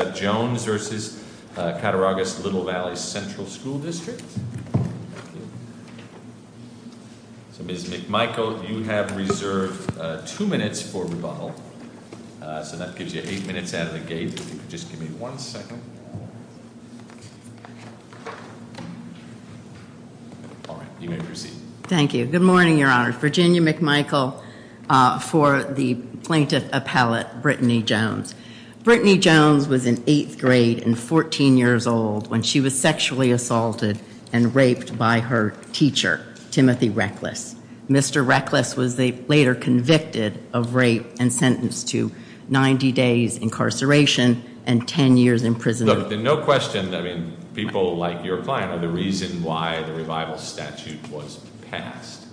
So Ms. McMichael, you have reserved two minutes for rebuttal. So that gives you eight minutes out of the gate. If you could just give me one second. All right. You may proceed. Thank you. Good morning, Your Honor. Virginia McMichael for the plaintiff appellate, Brittany Jones. Brittany Jones was in eighth grade and 14 years old when she was sexually assaulted and raped by her teacher, Timothy Reckless. Mr. Reckless was later convicted of rape and sentenced to 90 days incarceration and 10 years imprisonment. Look, there's no question that people like your client are the reason why the revival statute was passed.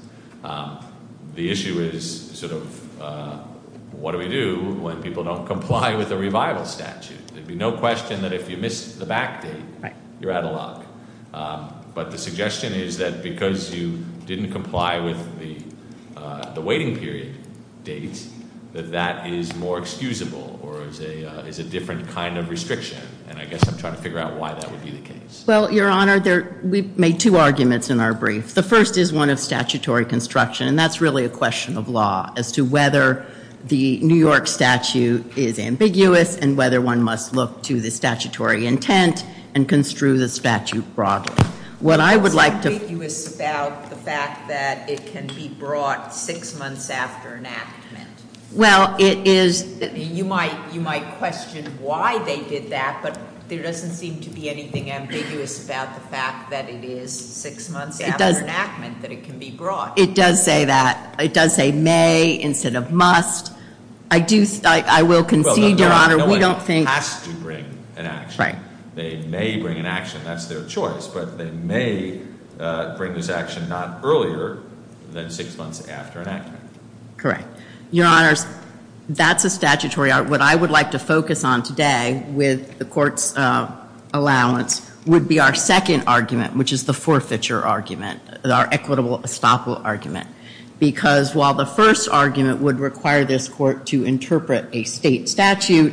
The issue is sort of what do we do when people don't comply with the revival statute? There'd be no question that if you missed the back date, you're out of luck. But the suggestion is that because you didn't comply with the waiting period date, that that is more excusable or is a different kind of restriction. And I guess I'm trying to figure out why that would be the case. Well, Your Honor, we made two arguments in our brief. The first is one of statutory construction, and that's really a question of law as to whether the New York statute is ambiguous and whether one must look to the statutory intent and construe the statute broadly. What I would like to- It's ambiguous about the fact that it can be brought six months after enactment. Well, it is- You might question why they did that, but there doesn't seem to be anything ambiguous about the fact that it is six months after enactment that it can be brought. It does say that. It does say may instead of must. I will concede, Your Honor, we don't think- No one has to bring an action. They may bring an action, that's their choice, but they may bring this action not earlier than six months after enactment. Correct. Your Honors, that's a statutory argument. What I would like to focus on today with the Court's allowance would be our second argument, which is the forfeiture argument, our equitable estoppel argument. Because while the first argument would require this Court to interpret a state statute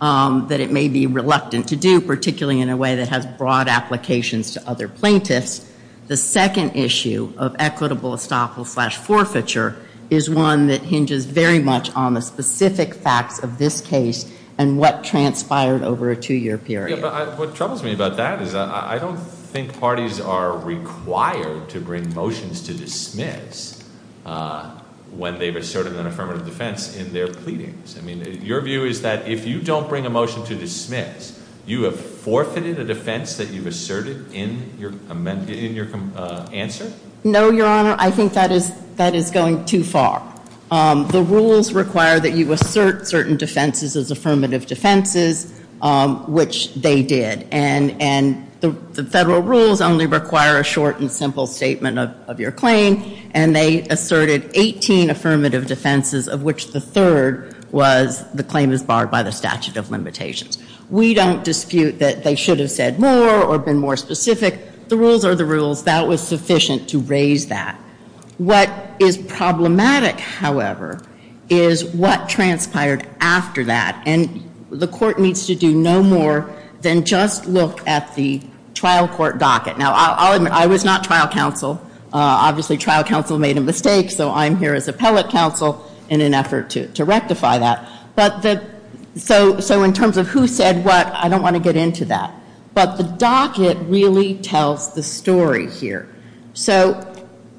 that it may be reluctant to do, particularly in a way that has broad applications to other plaintiffs, the second issue of equitable estoppel slash forfeiture is one that hinges very much on the specific facts of this case and what transpired over a two-year period. Yeah, but what troubles me about that is I don't think parties are required to bring motions to dismiss when they've asserted an affirmative defense in their pleadings. I mean, your view is that if you don't bring a motion to dismiss, you have forfeited a defense that you've asserted in your answer? No, Your Honor. I think that is going too far. The rules require that you assert certain defenses as affirmative defenses, which they did. And the Federal rules only require a short and simple statement of your claim. And they asserted 18 affirmative defenses, of which the third was the claim is barred by the statute of limitations. We don't dispute that they should have said more or been more specific. The rules are the rules. That was sufficient to raise that. What is problematic, however, is what transpired after that. And the Court needs to do no more than just look at the trial court docket. Now, I'll admit, I was not trial counsel. Obviously, trial counsel made a mistake, so I'm here as appellate counsel in an effort to rectify that. So in terms of who said what, I don't want to get into that. But the docket really tells the story here. So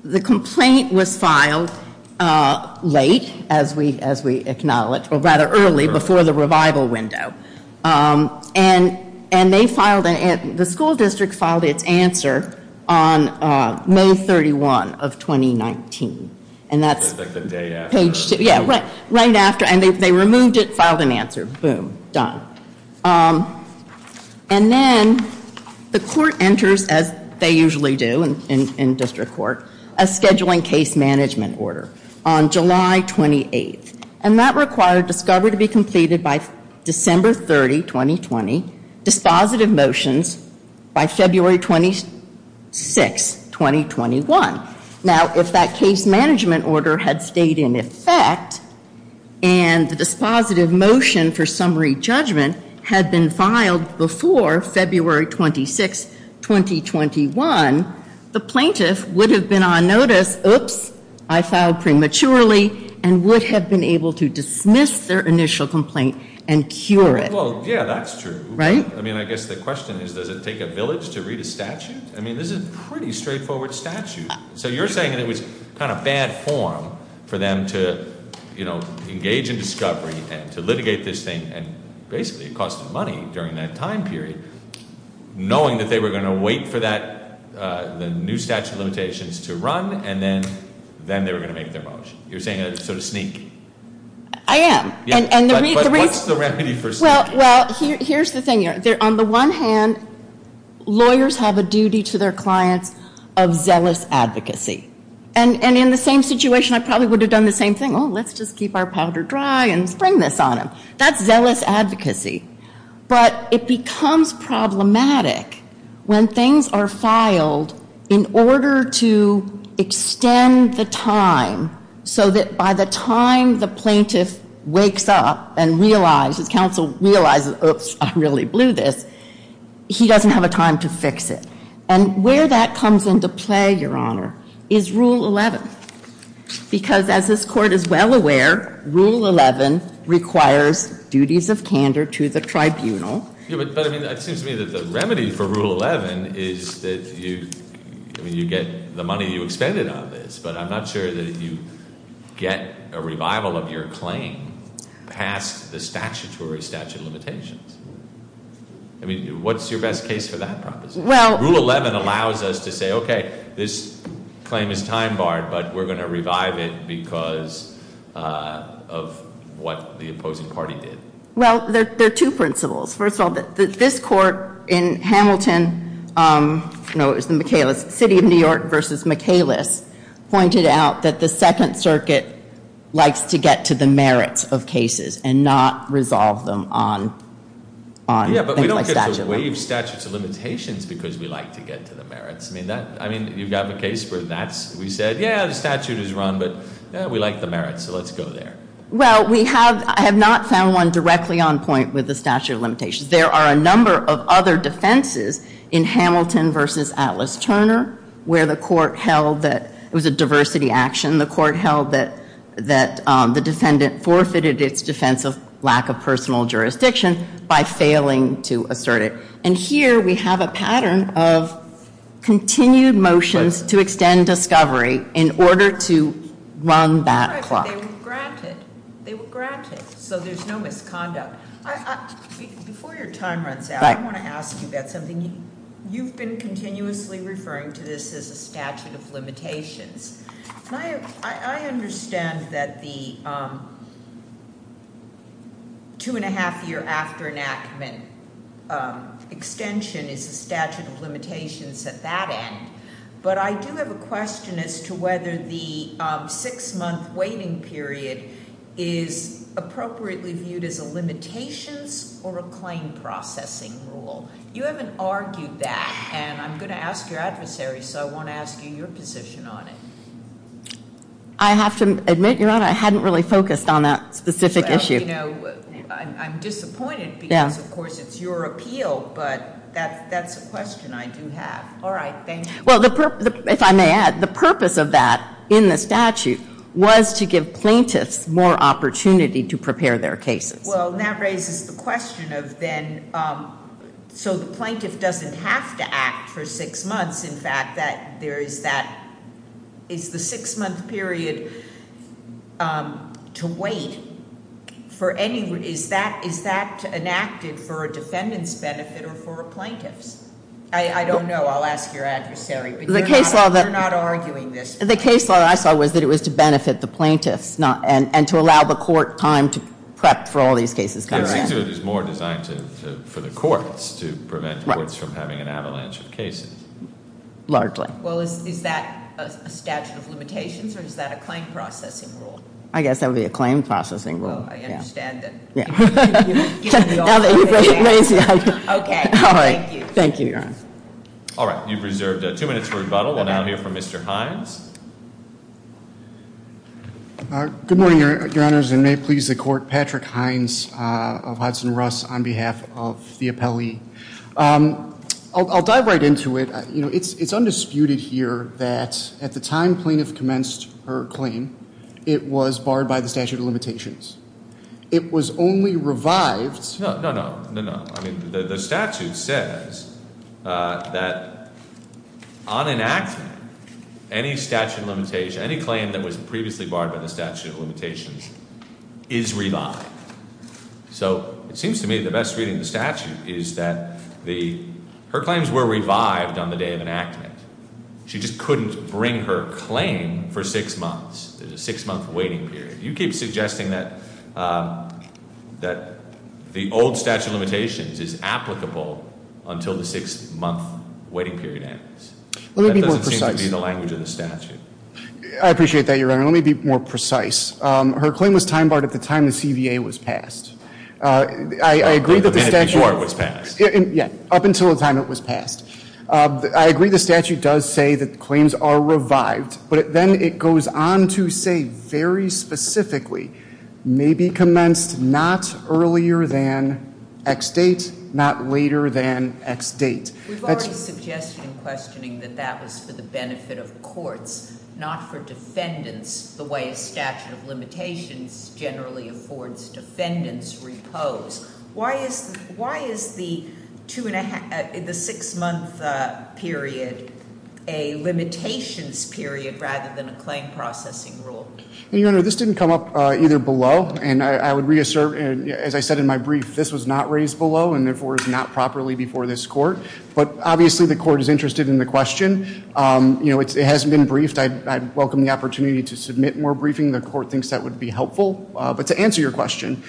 the complaint was filed late, as we acknowledge, or rather early, before the revival window. And the school district filed its answer on May 31 of 2019. And that's right after. And they removed it, filed an answer. Boom. Done. And then the Court enters, as they usually do in district court, a scheduling case management order on July 28. And that required discovery to be completed by December 30, 2020, dispositive motions by February 26, 2021. Now, if that case management order had stayed in effect, and the dispositive motion for summary judgment had been filed before February 26, 2021, the plaintiff would have been on notice, oops, I filed prematurely, and would have been able to dismiss their initial complaint and cure it. Well, yeah, that's true. Right? I mean, I guess the question is, does it take a village to read a statute? I mean, this is a pretty straightforward statute. So you're saying that it was kind of bad form for them to engage in discovery and to litigate this thing, and basically it cost them money during that time period, knowing that they were going to wait for the new statute of limitations to run, and then they were going to make their motion. You're saying it was sort of sneak? I am. But what's the remedy for sneaking? Well, here's the thing. On the one hand, lawyers have a duty to their clients of zealous advocacy. And in the same situation, I probably would have done the same thing. Oh, let's just keep our powder dry and spring this on them. That's zealous advocacy. But it becomes problematic when things are filed in order to extend the time so that by the time the plaintiff wakes up and realizes, counsel realizes, oops, I really blew this, he doesn't have a time to fix it. And where that comes into play, Your Honor, is Rule 11. Because as this Court is well aware, Rule 11 requires duties of candor to the tribunal. But, I mean, it seems to me that the remedy for Rule 11 is that you get the money you expended on this, but I'm not sure that you get a revival of your claim past the statutory statute of limitations. I mean, what's your best case for that proposition? Rule 11 allows us to say, okay, this claim is time barred, but we're going to revive it because of what the opposing party did. Well, there are two principles. First of all, this Court in Hamilton, no, it was the City of New York v. Michaelis, pointed out that the Second Circuit likes to get to the merits of cases and not resolve them on things like statutory. We have statutes of limitations because we like to get to the merits. I mean, you've got the case where that's, we said, yeah, the statute is run, but we like the merits, so let's go there. Well, we have, I have not found one directly on point with the statute of limitations. There are a number of other defenses in Hamilton v. Atlas-Turner where the Court held that it was a diversity action. The Court held that the defendant forfeited its defense of lack of personal jurisdiction by failing to assert it. And here we have a pattern of continued motions to extend discovery in order to run that clock. But they were granted. They were granted, so there's no misconduct. Before your time runs out, I want to ask you about something. You've been continuously referring to this as a statute of limitations. I understand that the two-and-a-half year after enactment extension is a statute of limitations at that end. But I do have a question as to whether the six-month waiting period is appropriately viewed as a limitations or a claim processing rule. You haven't argued that, and I'm going to ask your adversary, so I want to ask you your position on it. I have to admit, Your Honor, I hadn't really focused on that specific issue. Well, you know, I'm disappointed because, of course, it's your appeal, but that's a question I do have. All right, thank you. Well, if I may add, the purpose of that in the statute was to give plaintiffs more opportunity to prepare their cases. Well, and that raises the question of then, so the plaintiff doesn't have to act for six months. In fact, is the six-month period to wait, is that enacted for a defendant's benefit or for a plaintiff's? I don't know. I'll ask your adversary. But you're not arguing this. The case law that I saw was that it was to benefit the plaintiffs and to allow the court time to prep for all these cases coming around. It seems to me it was more designed for the courts to prevent courts from having an avalanche of cases. Largely. Well, is that a statute of limitations or is that a claim processing rule? I guess that would be a claim processing rule. Oh, I understand that. Now that you've raised the issue. Okay, thank you. Thank you, Your Honor. All right, you've reserved two minutes for rebuttal. We'll now hear from Mr. Hines. Good morning, Your Honors, and may it please the Court, Patrick Hines of Hudson-Russ on behalf of the appellee. I'll dive right into it. You know, it's undisputed here that at the time plaintiff commenced her claim, it was barred by the statute of limitations. It was only revived. No, no, no, no, no. The statute says that on enactment, any statute of limitations, any claim that was previously barred by the statute of limitations is revived. So it seems to me the best reading of the statute is that her claims were revived on the day of enactment. She just couldn't bring her claim for six months. There's a six-month waiting period. You keep suggesting that the old statute of limitations is applicable until the six-month waiting period ends. Let me be more precise. That doesn't seem to be the language of the statute. I appreciate that, Your Honor. Let me be more precise. Her claim was time barred at the time the CVA was passed. I agree that the statute- A minute before it was passed. Yeah, up until the time it was passed. I agree the statute does say that claims are revived, but then it goes on to say very specifically, may be commenced not earlier than X date, not later than X date. We've already suggested in questioning that that was for the benefit of courts, not for defendants, the way a statute of limitations generally affords defendants repose. Why is the six-month period a limitations period rather than a claim processing rule? Your Honor, this didn't come up either below, and I would reassert, as I said in my brief, this was not raised below and, therefore, is not properly before this court. But, obviously, the court is interested in the question. It hasn't been briefed. I'd welcome the opportunity to submit more briefing. The court thinks that would be helpful. But to answer your question,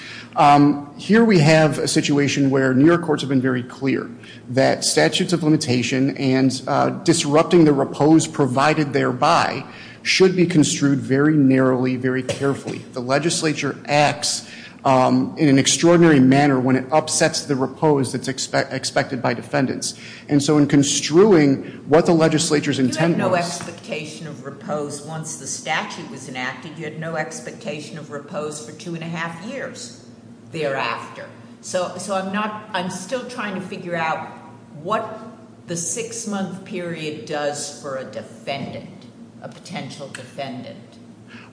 here we have a situation where New York courts have been very clear that statutes of limitation and disrupting the repose provided thereby should be construed very narrowly, very carefully. The legislature acts in an extraordinary manner when it upsets the repose that's expected by defendants. And so in construing what the legislature's intent was- You had no expectation of repose once the statute was enacted. You had no expectation of repose for two and a half years thereafter. So I'm still trying to figure out what the six-month period does for a defendant, a potential defendant.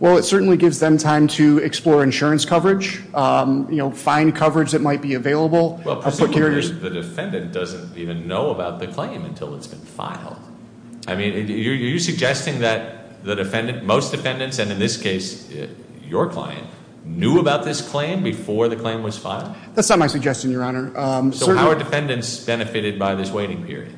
Well, it certainly gives them time to explore insurance coverage, find coverage that might be available. The defendant doesn't even know about the claim until it's been filed. I mean, are you suggesting that most defendants, and in this case your client, knew about this claim before the claim was filed? That's not my suggestion, Your Honor. So how are defendants benefited by this waiting period?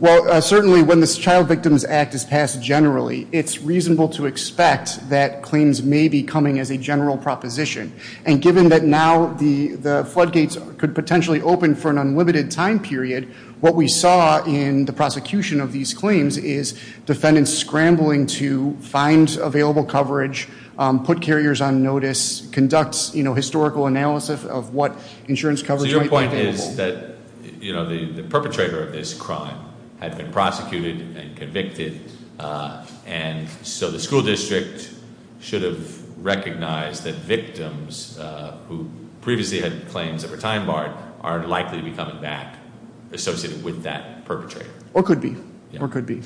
Well, certainly when this Child Victims Act is passed generally, it's reasonable to expect that claims may be coming as a general proposition. And given that now the floodgates could potentially open for an unlimited time period, what we saw in the prosecution of these claims is defendants scrambling to find available coverage, put carriers on notice, conduct historical analysis of what insurance coverage might be available. So your point is that the perpetrator of this crime had been prosecuted and convicted. And so the school district should have recognized that victims who previously had claims that were time barred are likely to be coming back associated with that perpetrator. Or could be. Or could be.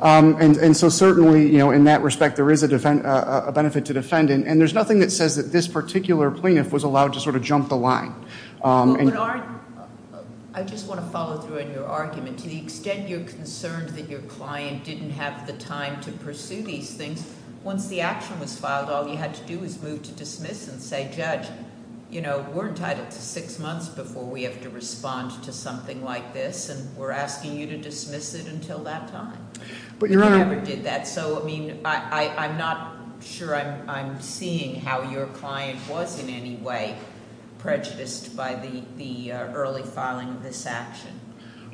And so certainly, in that respect, there is a benefit to defending. And there's nothing that says that this particular plaintiff was allowed to sort of jump the line. I just want to follow through on your argument. To the extent you're concerned that your client didn't have the time to pursue these things, once the action was filed, all you had to do was move to dismiss and say, Judge, we're entitled to six months before we have to respond to something like this. And we're asking you to dismiss it until that time. But Your Honor- If you ever did that. I'm not sure I'm seeing how your client was in any way prejudiced by the early filing of this action.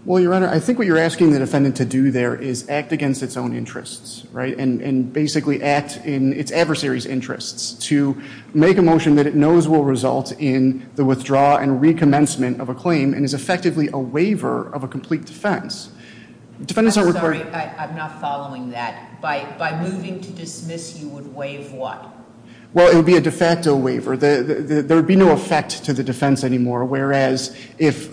Well, Your Honor, I think what you're asking the defendant to do there is act against its own interests. And basically act in its adversary's interests to make a motion that it knows will result in the withdrawal and recommencement of a claim and is effectively a waiver of a complete defense. I'm sorry, I'm not following that. By moving to dismiss, you would waive what? Well, it would be a de facto waiver. There would be no effect to the defense anymore. Whereas, if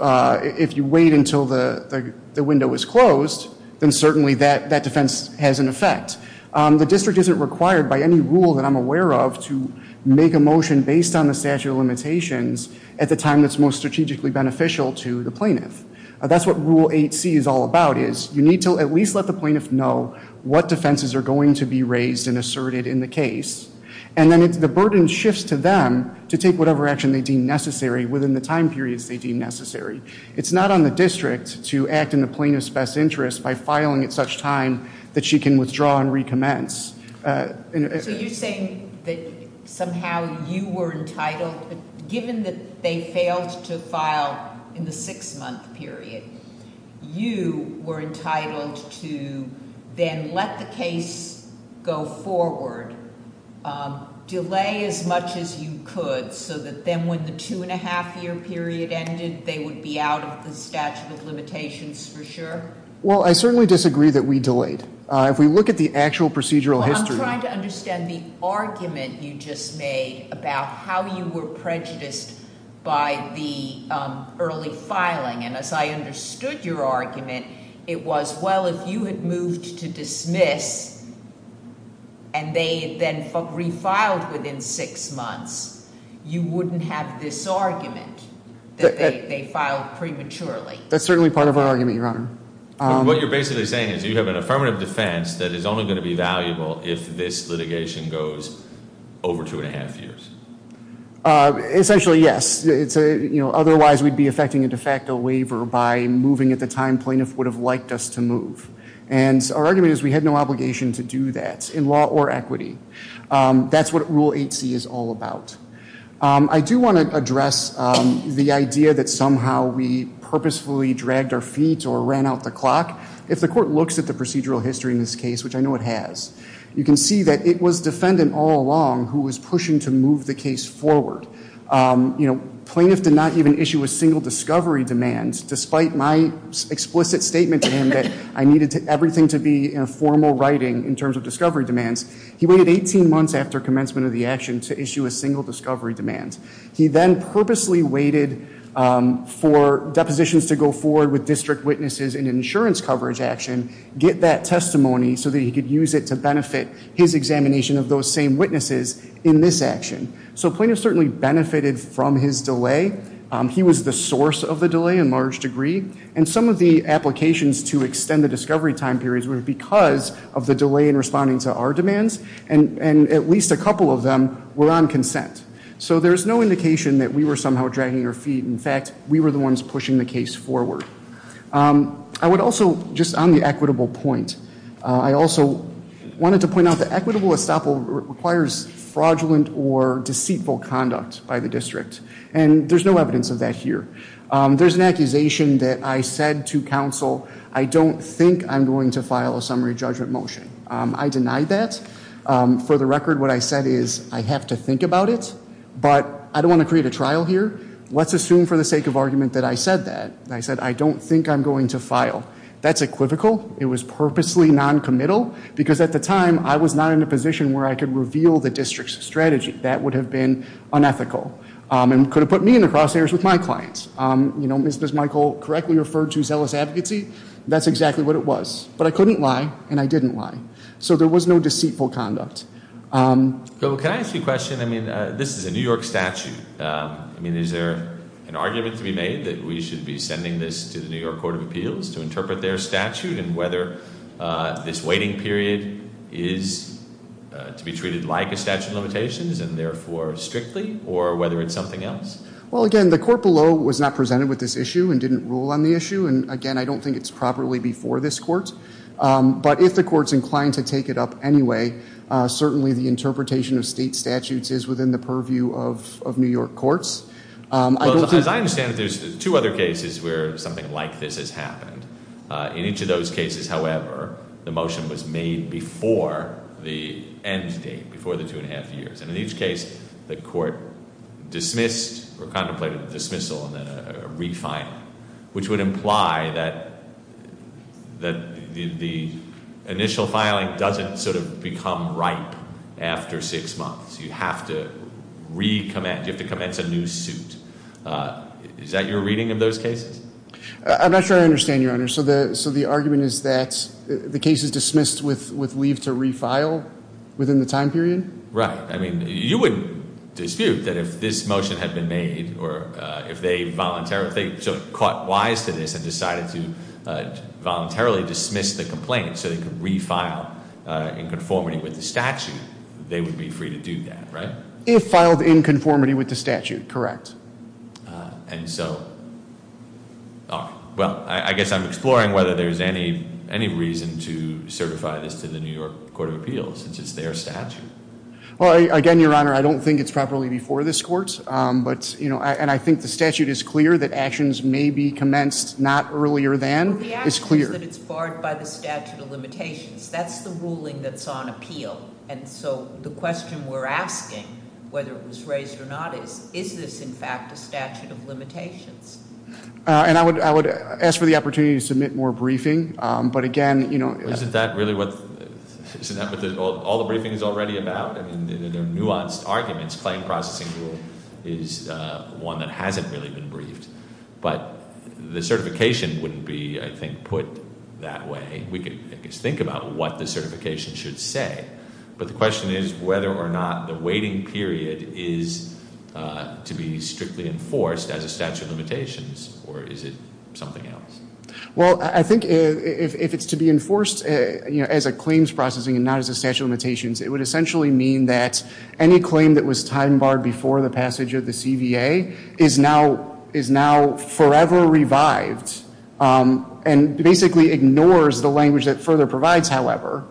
you wait until the window is closed, then certainly that defense has an effect. The district isn't required by any rule that I'm aware of to make a motion based on the statute of limitations at the time that's most strategically beneficial to the plaintiff. That's what Rule 8C is all about is you need to at least let the plaintiff know what defenses are going to be raised and asserted in the case. And then the burden shifts to them to take whatever action they deem necessary within the time periods they deem necessary. It's not on the district to act in the plaintiff's best interest by filing at such time that she can withdraw and recommence. So you're saying that somehow you were entitled, given that they failed to file in the six-month period, you were entitled to then let the case go forward, delay as much as you could so that then when the two-and-a-half-year period ended, they would be out of the statute of limitations for sure? Well, I certainly disagree that we delayed. If we look at the actual procedural history. Well, I'm trying to understand the argument you just made about how you were prejudiced by the early filing. And as I understood your argument, it was, well, if you had moved to dismiss and they then refiled within six months, you wouldn't have this argument that they filed prematurely. That's certainly part of our argument, Your Honor. What you're basically saying is you have an affirmative defense that is only going to be valuable if this litigation goes over two-and-a-half years. Essentially, yes. Otherwise, we'd be effecting a de facto waiver by moving at the time plaintiff would have liked us to move. And our argument is we had no obligation to do that in law or equity. That's what Rule 8c is all about. I do want to address the idea that somehow we purposefully dragged our feet or ran out the clock. If the court looks at the procedural history in this case, which I know it has, you can see that it was defendant all along who was pushing to move the case forward. Plaintiff did not even issue a single discovery demand, despite my explicit statement to him that I needed everything to be in a formal writing in terms of discovery demands. He waited 18 months after commencement of the action to issue a single discovery demand. He then purposely waited for depositions to go forward with district witnesses in an insurance coverage action, get that testimony so that he could use it to benefit his examination of those same witnesses in this action. So plaintiff certainly benefited from his delay. He was the source of the delay in large degree. And some of the applications to extend the discovery time periods were because of the delay in responding to our demands. And at least a couple of them were on consent. So there is no indication that we were somehow dragging our feet. In fact, we were the ones pushing the case forward. I would also, just on the equitable point, I also wanted to point out the equitable estoppel requires fraudulent or deceitful conduct by the district. And there's no evidence of that here. There's an accusation that I said to counsel, I don't think I'm going to file a summary judgment motion. I deny that. For the record, what I said is I have to think about it, but I don't want to create a trial here. Let's assume for the sake of argument that I said that. I said I don't think I'm going to file. That's equivocal. It was purposely noncommittal because at the time I was not in a position where I could reveal the district's strategy. That would have been unethical and could have put me in the crosshairs with my clients. As Michael correctly referred to, zealous advocacy, that's exactly what it was. But I couldn't lie, and I didn't lie. So there was no deceitful conduct. So can I ask you a question? I mean, this is a New York statute. I mean, is there an argument to be made that we should be sending this to the New York Court of Appeals to interpret their statute? And whether this waiting period is to be treated like a statute of limitations and therefore strictly? Or whether it's something else? Well, again, the court below was not presented with this issue and didn't rule on the issue. And, again, I don't think it's properly before this court. But if the court's inclined to take it up anyway, certainly the interpretation of state statutes is within the purview of New York courts. As I understand it, there's two other cases where something like this has happened. In each of those cases, however, the motion was made before the end date, before the two and a half years. And in each case, the court dismissed or contemplated a dismissal and then a refiling, which would imply that the initial filing doesn't sort of become ripe after six months. You have to recommence. You have to commence a new suit. Is that your reading of those cases? I'm not sure I understand, Your Honor. So the argument is that the case is dismissed with leave to refile within the time period? Right. I mean, you wouldn't dispute that if this motion had been made or if they voluntarily, if they sort of caught wise to this and decided to voluntarily dismiss the complaint so they could refile in conformity with the statute, they would be free to do that, right? If filed in conformity with the statute, correct. And so, well, I guess I'm exploring whether there's any reason to certify this to the New York Court of Appeals since it's their statute. Well, again, Your Honor, I don't think it's properly before this court. And I think the statute is clear that actions may be commenced not earlier than is clear. The action is that it's barred by the statute of limitations. That's the ruling that's on appeal. And so the question we're asking, whether it was raised or not, is, is this in fact a statute of limitations? And I would ask for the opportunity to submit more briefing. But again, you know- Isn't that really what all the briefing is already about? I mean, they're nuanced arguments. Claim processing rule is one that hasn't really been briefed. But the certification wouldn't be, I think, put that way. I think we could think about what the certification should say. But the question is whether or not the waiting period is to be strictly enforced as a statute of limitations. Or is it something else? Well, I think if it's to be enforced as a claims processing and not as a statute of limitations, it would essentially mean that any claim that was time barred before the passage of the CVA is now forever revived. And basically ignores the language that further provides, however,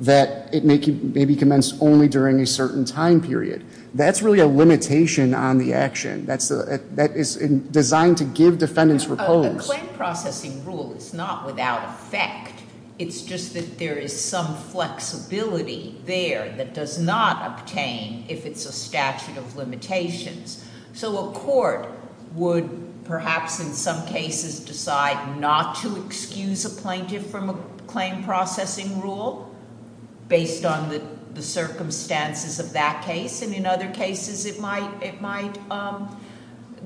that it may be commenced only during a certain time period. That's really a limitation on the action. That is designed to give defendants repose. A claim processing rule is not without effect. It's just that there is some flexibility there that does not obtain if it's a statute of limitations. So a court would perhaps in some cases decide not to excuse a plaintiff from a claim processing rule based on the circumstances of that case. And in other cases, it might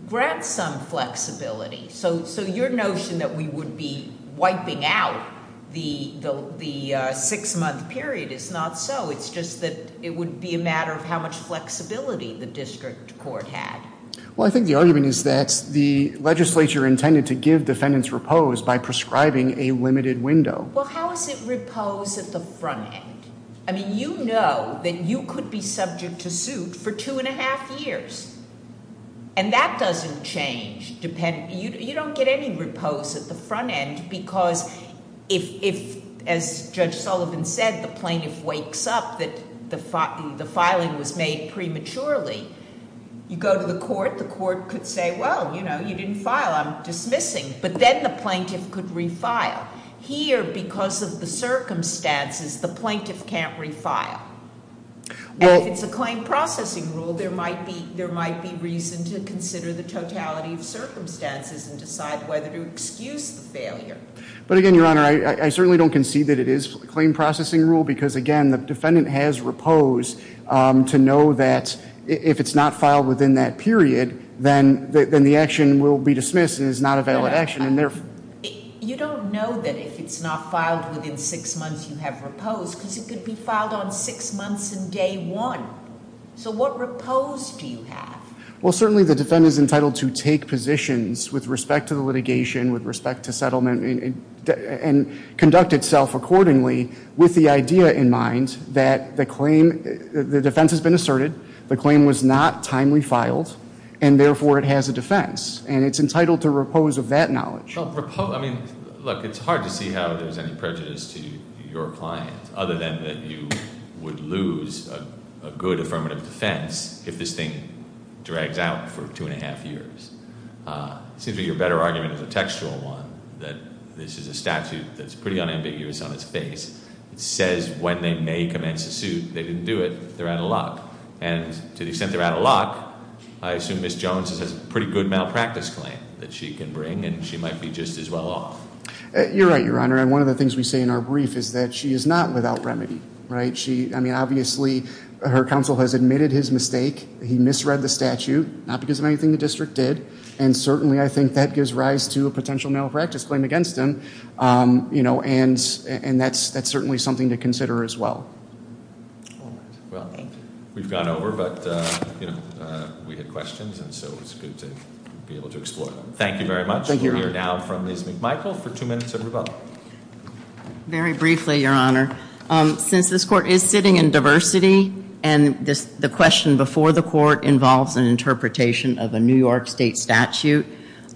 grant some flexibility. So your notion that we would be wiping out the six-month period is not so. It's just that it would be a matter of how much flexibility the district court had. Well, I think the argument is that the legislature intended to give defendants repose by prescribing a limited window. Well, how is it repose at the front end? I mean, you know that you could be subject to suit for two and a half years. And that doesn't change. You don't get any repose at the front end because if, as Judge Sullivan said, the plaintiff wakes up that the filing was made prematurely, you go to the court. The court could say, well, you know, you didn't file. I'm dismissing. But then the plaintiff could refile. Here, because of the circumstances, the plaintiff can't refile. And if it's a claim processing rule, there might be reason to consider the totality of circumstances and decide whether to excuse the failure. But again, Your Honor, I certainly don't concede that it is a claim processing rule because, again, the defendant has repose to know that if it's not filed within that period, then the action will be dismissed and is not a valid action. You don't know that if it's not filed within six months you have repose because it could be filed on six months and day one. So what repose do you have? Well, certainly the defendant is entitled to take positions with respect to the litigation, with respect to settlement, and conduct itself accordingly with the idea in mind that the claim, the defense has been asserted, the claim was not timely filed, and therefore it has a defense. And it's entitled to repose of that knowledge. Well, repose, I mean, look, it's hard to see how there's any prejudice to your client, other than that you would lose a good affirmative defense if this thing drags out for two and a half years. It seems to me your better argument is a textual one, that this is a statute that's pretty unambiguous on its face. It says when they may commence a suit. They didn't do it. They're out of luck. And to the extent they're out of luck, I assume Ms. Jones has a pretty good malpractice claim that she can bring. And she might be just as well off. You're right, Your Honor. And one of the things we say in our brief is that she is not without remedy. Right? I mean, obviously her counsel has admitted his mistake. He misread the statute, not because of anything the district did. And certainly I think that gives rise to a potential malpractice claim against him. And that's certainly something to consider as well. Well, we've gone over, but we had questions, and so it's good to be able to explore them. Thank you very much. Thank you, Your Honor. We'll hear now from Ms. McMichael for two minutes of rebuttal. Very briefly, Your Honor. Since this court is sitting in diversity, and the question before the court involves an interpretation of a New York state statute,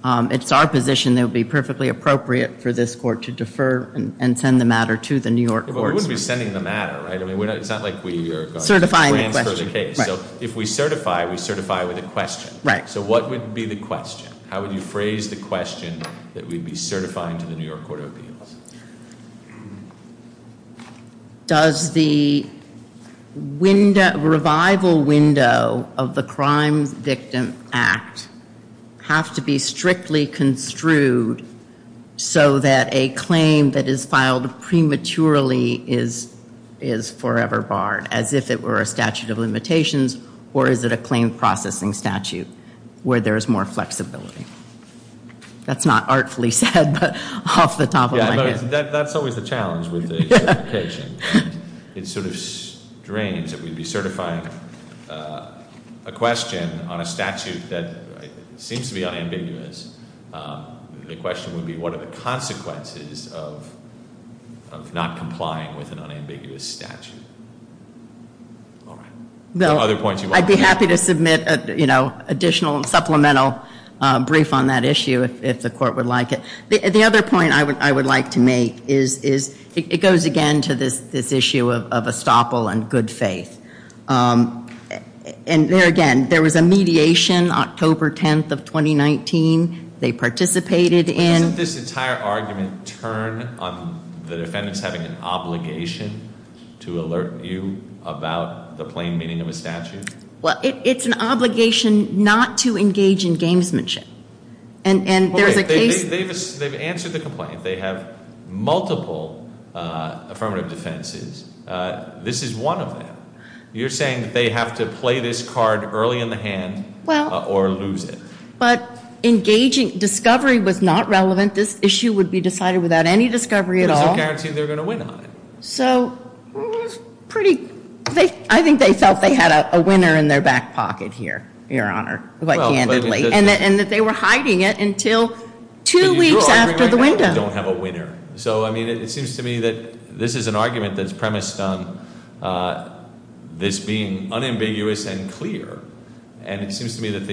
it's our position that it would be perfectly appropriate for this court to defer and send the matter to the New York courts. But we wouldn't be sending the matter, right? I mean, it's not like we are going to transfer the case. Certifying the question. Right. So if we certify, we certify with a question. Right. So what would be the question? How would you phrase the question that we'd be certifying to the New York Court of Appeals? Does the revival window of the Crime Victim Act have to be strictly construed so that a claim that is filed prematurely is forever barred, as if it were a statute of limitations, or is it a claim processing statute where there is more flexibility? That's not artfully said, but off the top of my head. That's always the challenge with certification. It sort of drains that we'd be certifying a question on a statute that seems to be unambiguous. The question would be, what are the consequences of not complying with an unambiguous statute? All right. Other points you want to make? I'd be happy to submit additional and supplemental brief on that issue if the court would like it. The other point I would like to make is, it goes again to this issue of estoppel and good faith. And there again, there was a mediation October 10th of 2019. They participated in- Doesn't this entire argument turn on the defendants having an obligation to alert you about the plain meaning of a statute? Well, it's an obligation not to engage in gamesmanship. And there's a case- They've answered the complaint. They have multiple affirmative defenses. This is one of them. You're saying that they have to play this card early in the hand or lose it. But engaging discovery was not relevant. This issue would be decided without any discovery at all. There was no guarantee they were going to win on it. So it was pretty- I think they felt they had a winner in their back pocket here, Your Honor, quite candidly. And that they were hiding it until two weeks after the window. They don't have a winner. So, I mean, it seems to me that this is an argument that's premised on this being unambiguous and clear. And it seems to me that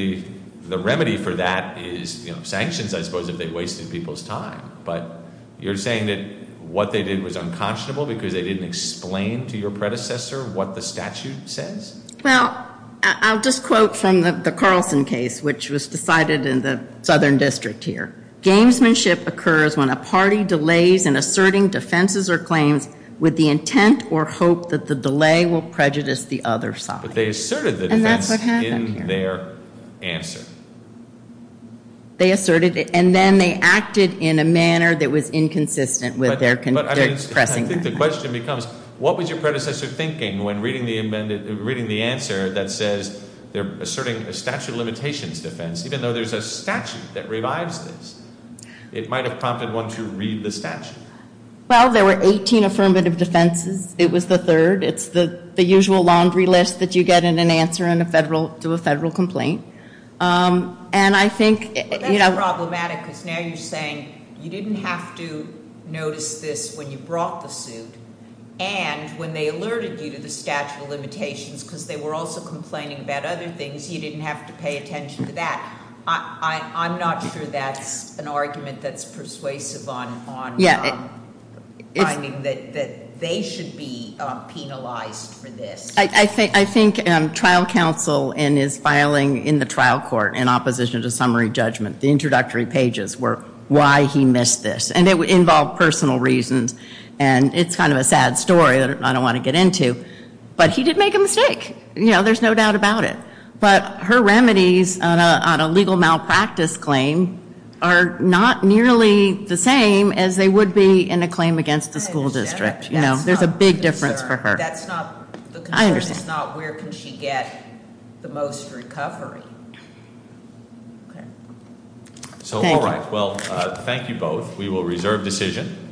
the remedy for that is sanctions, I suppose, if they wasted people's time. But you're saying that what they did was unconscionable because they didn't explain to your predecessor what the statute says? Well, I'll just quote from the Carlson case, which was decided in the Southern District here. Gamesmanship occurs when a party delays in asserting defenses or claims with the intent or hope that the delay will prejudice the other side. But they asserted the defense in their answer. They asserted it. And then they acted in a manner that was inconsistent with their- I think the question becomes, what was your predecessor thinking when reading the answer that says they're asserting a statute of limitations defense, even though there's a statute that revives this? It might have prompted one to read the statute. Well, there were 18 affirmative defenses. It was the third. It's the usual laundry list that you get in an answer to a federal complaint. And I think- It's problematic because now you're saying you didn't have to notice this when you brought the suit. And when they alerted you to the statute of limitations because they were also complaining about other things, you didn't have to pay attention to that. I'm not sure that's an argument that's persuasive on finding that they should be penalized for this. I think trial counsel in his filing in the trial court in opposition to summary judgment, the introductory pages were why he missed this. And it involved personal reasons. And it's kind of a sad story that I don't want to get into. But he did make a mistake. You know, there's no doubt about it. But her remedies on a legal malpractice claim are not nearly the same as they would be in a claim against the school district. You know, there's a big difference for her. That's not the concern. I understand. It's not where can she get the most recovery. Okay. Thank you. So, all right. Well, thank you both. We will reserve decision.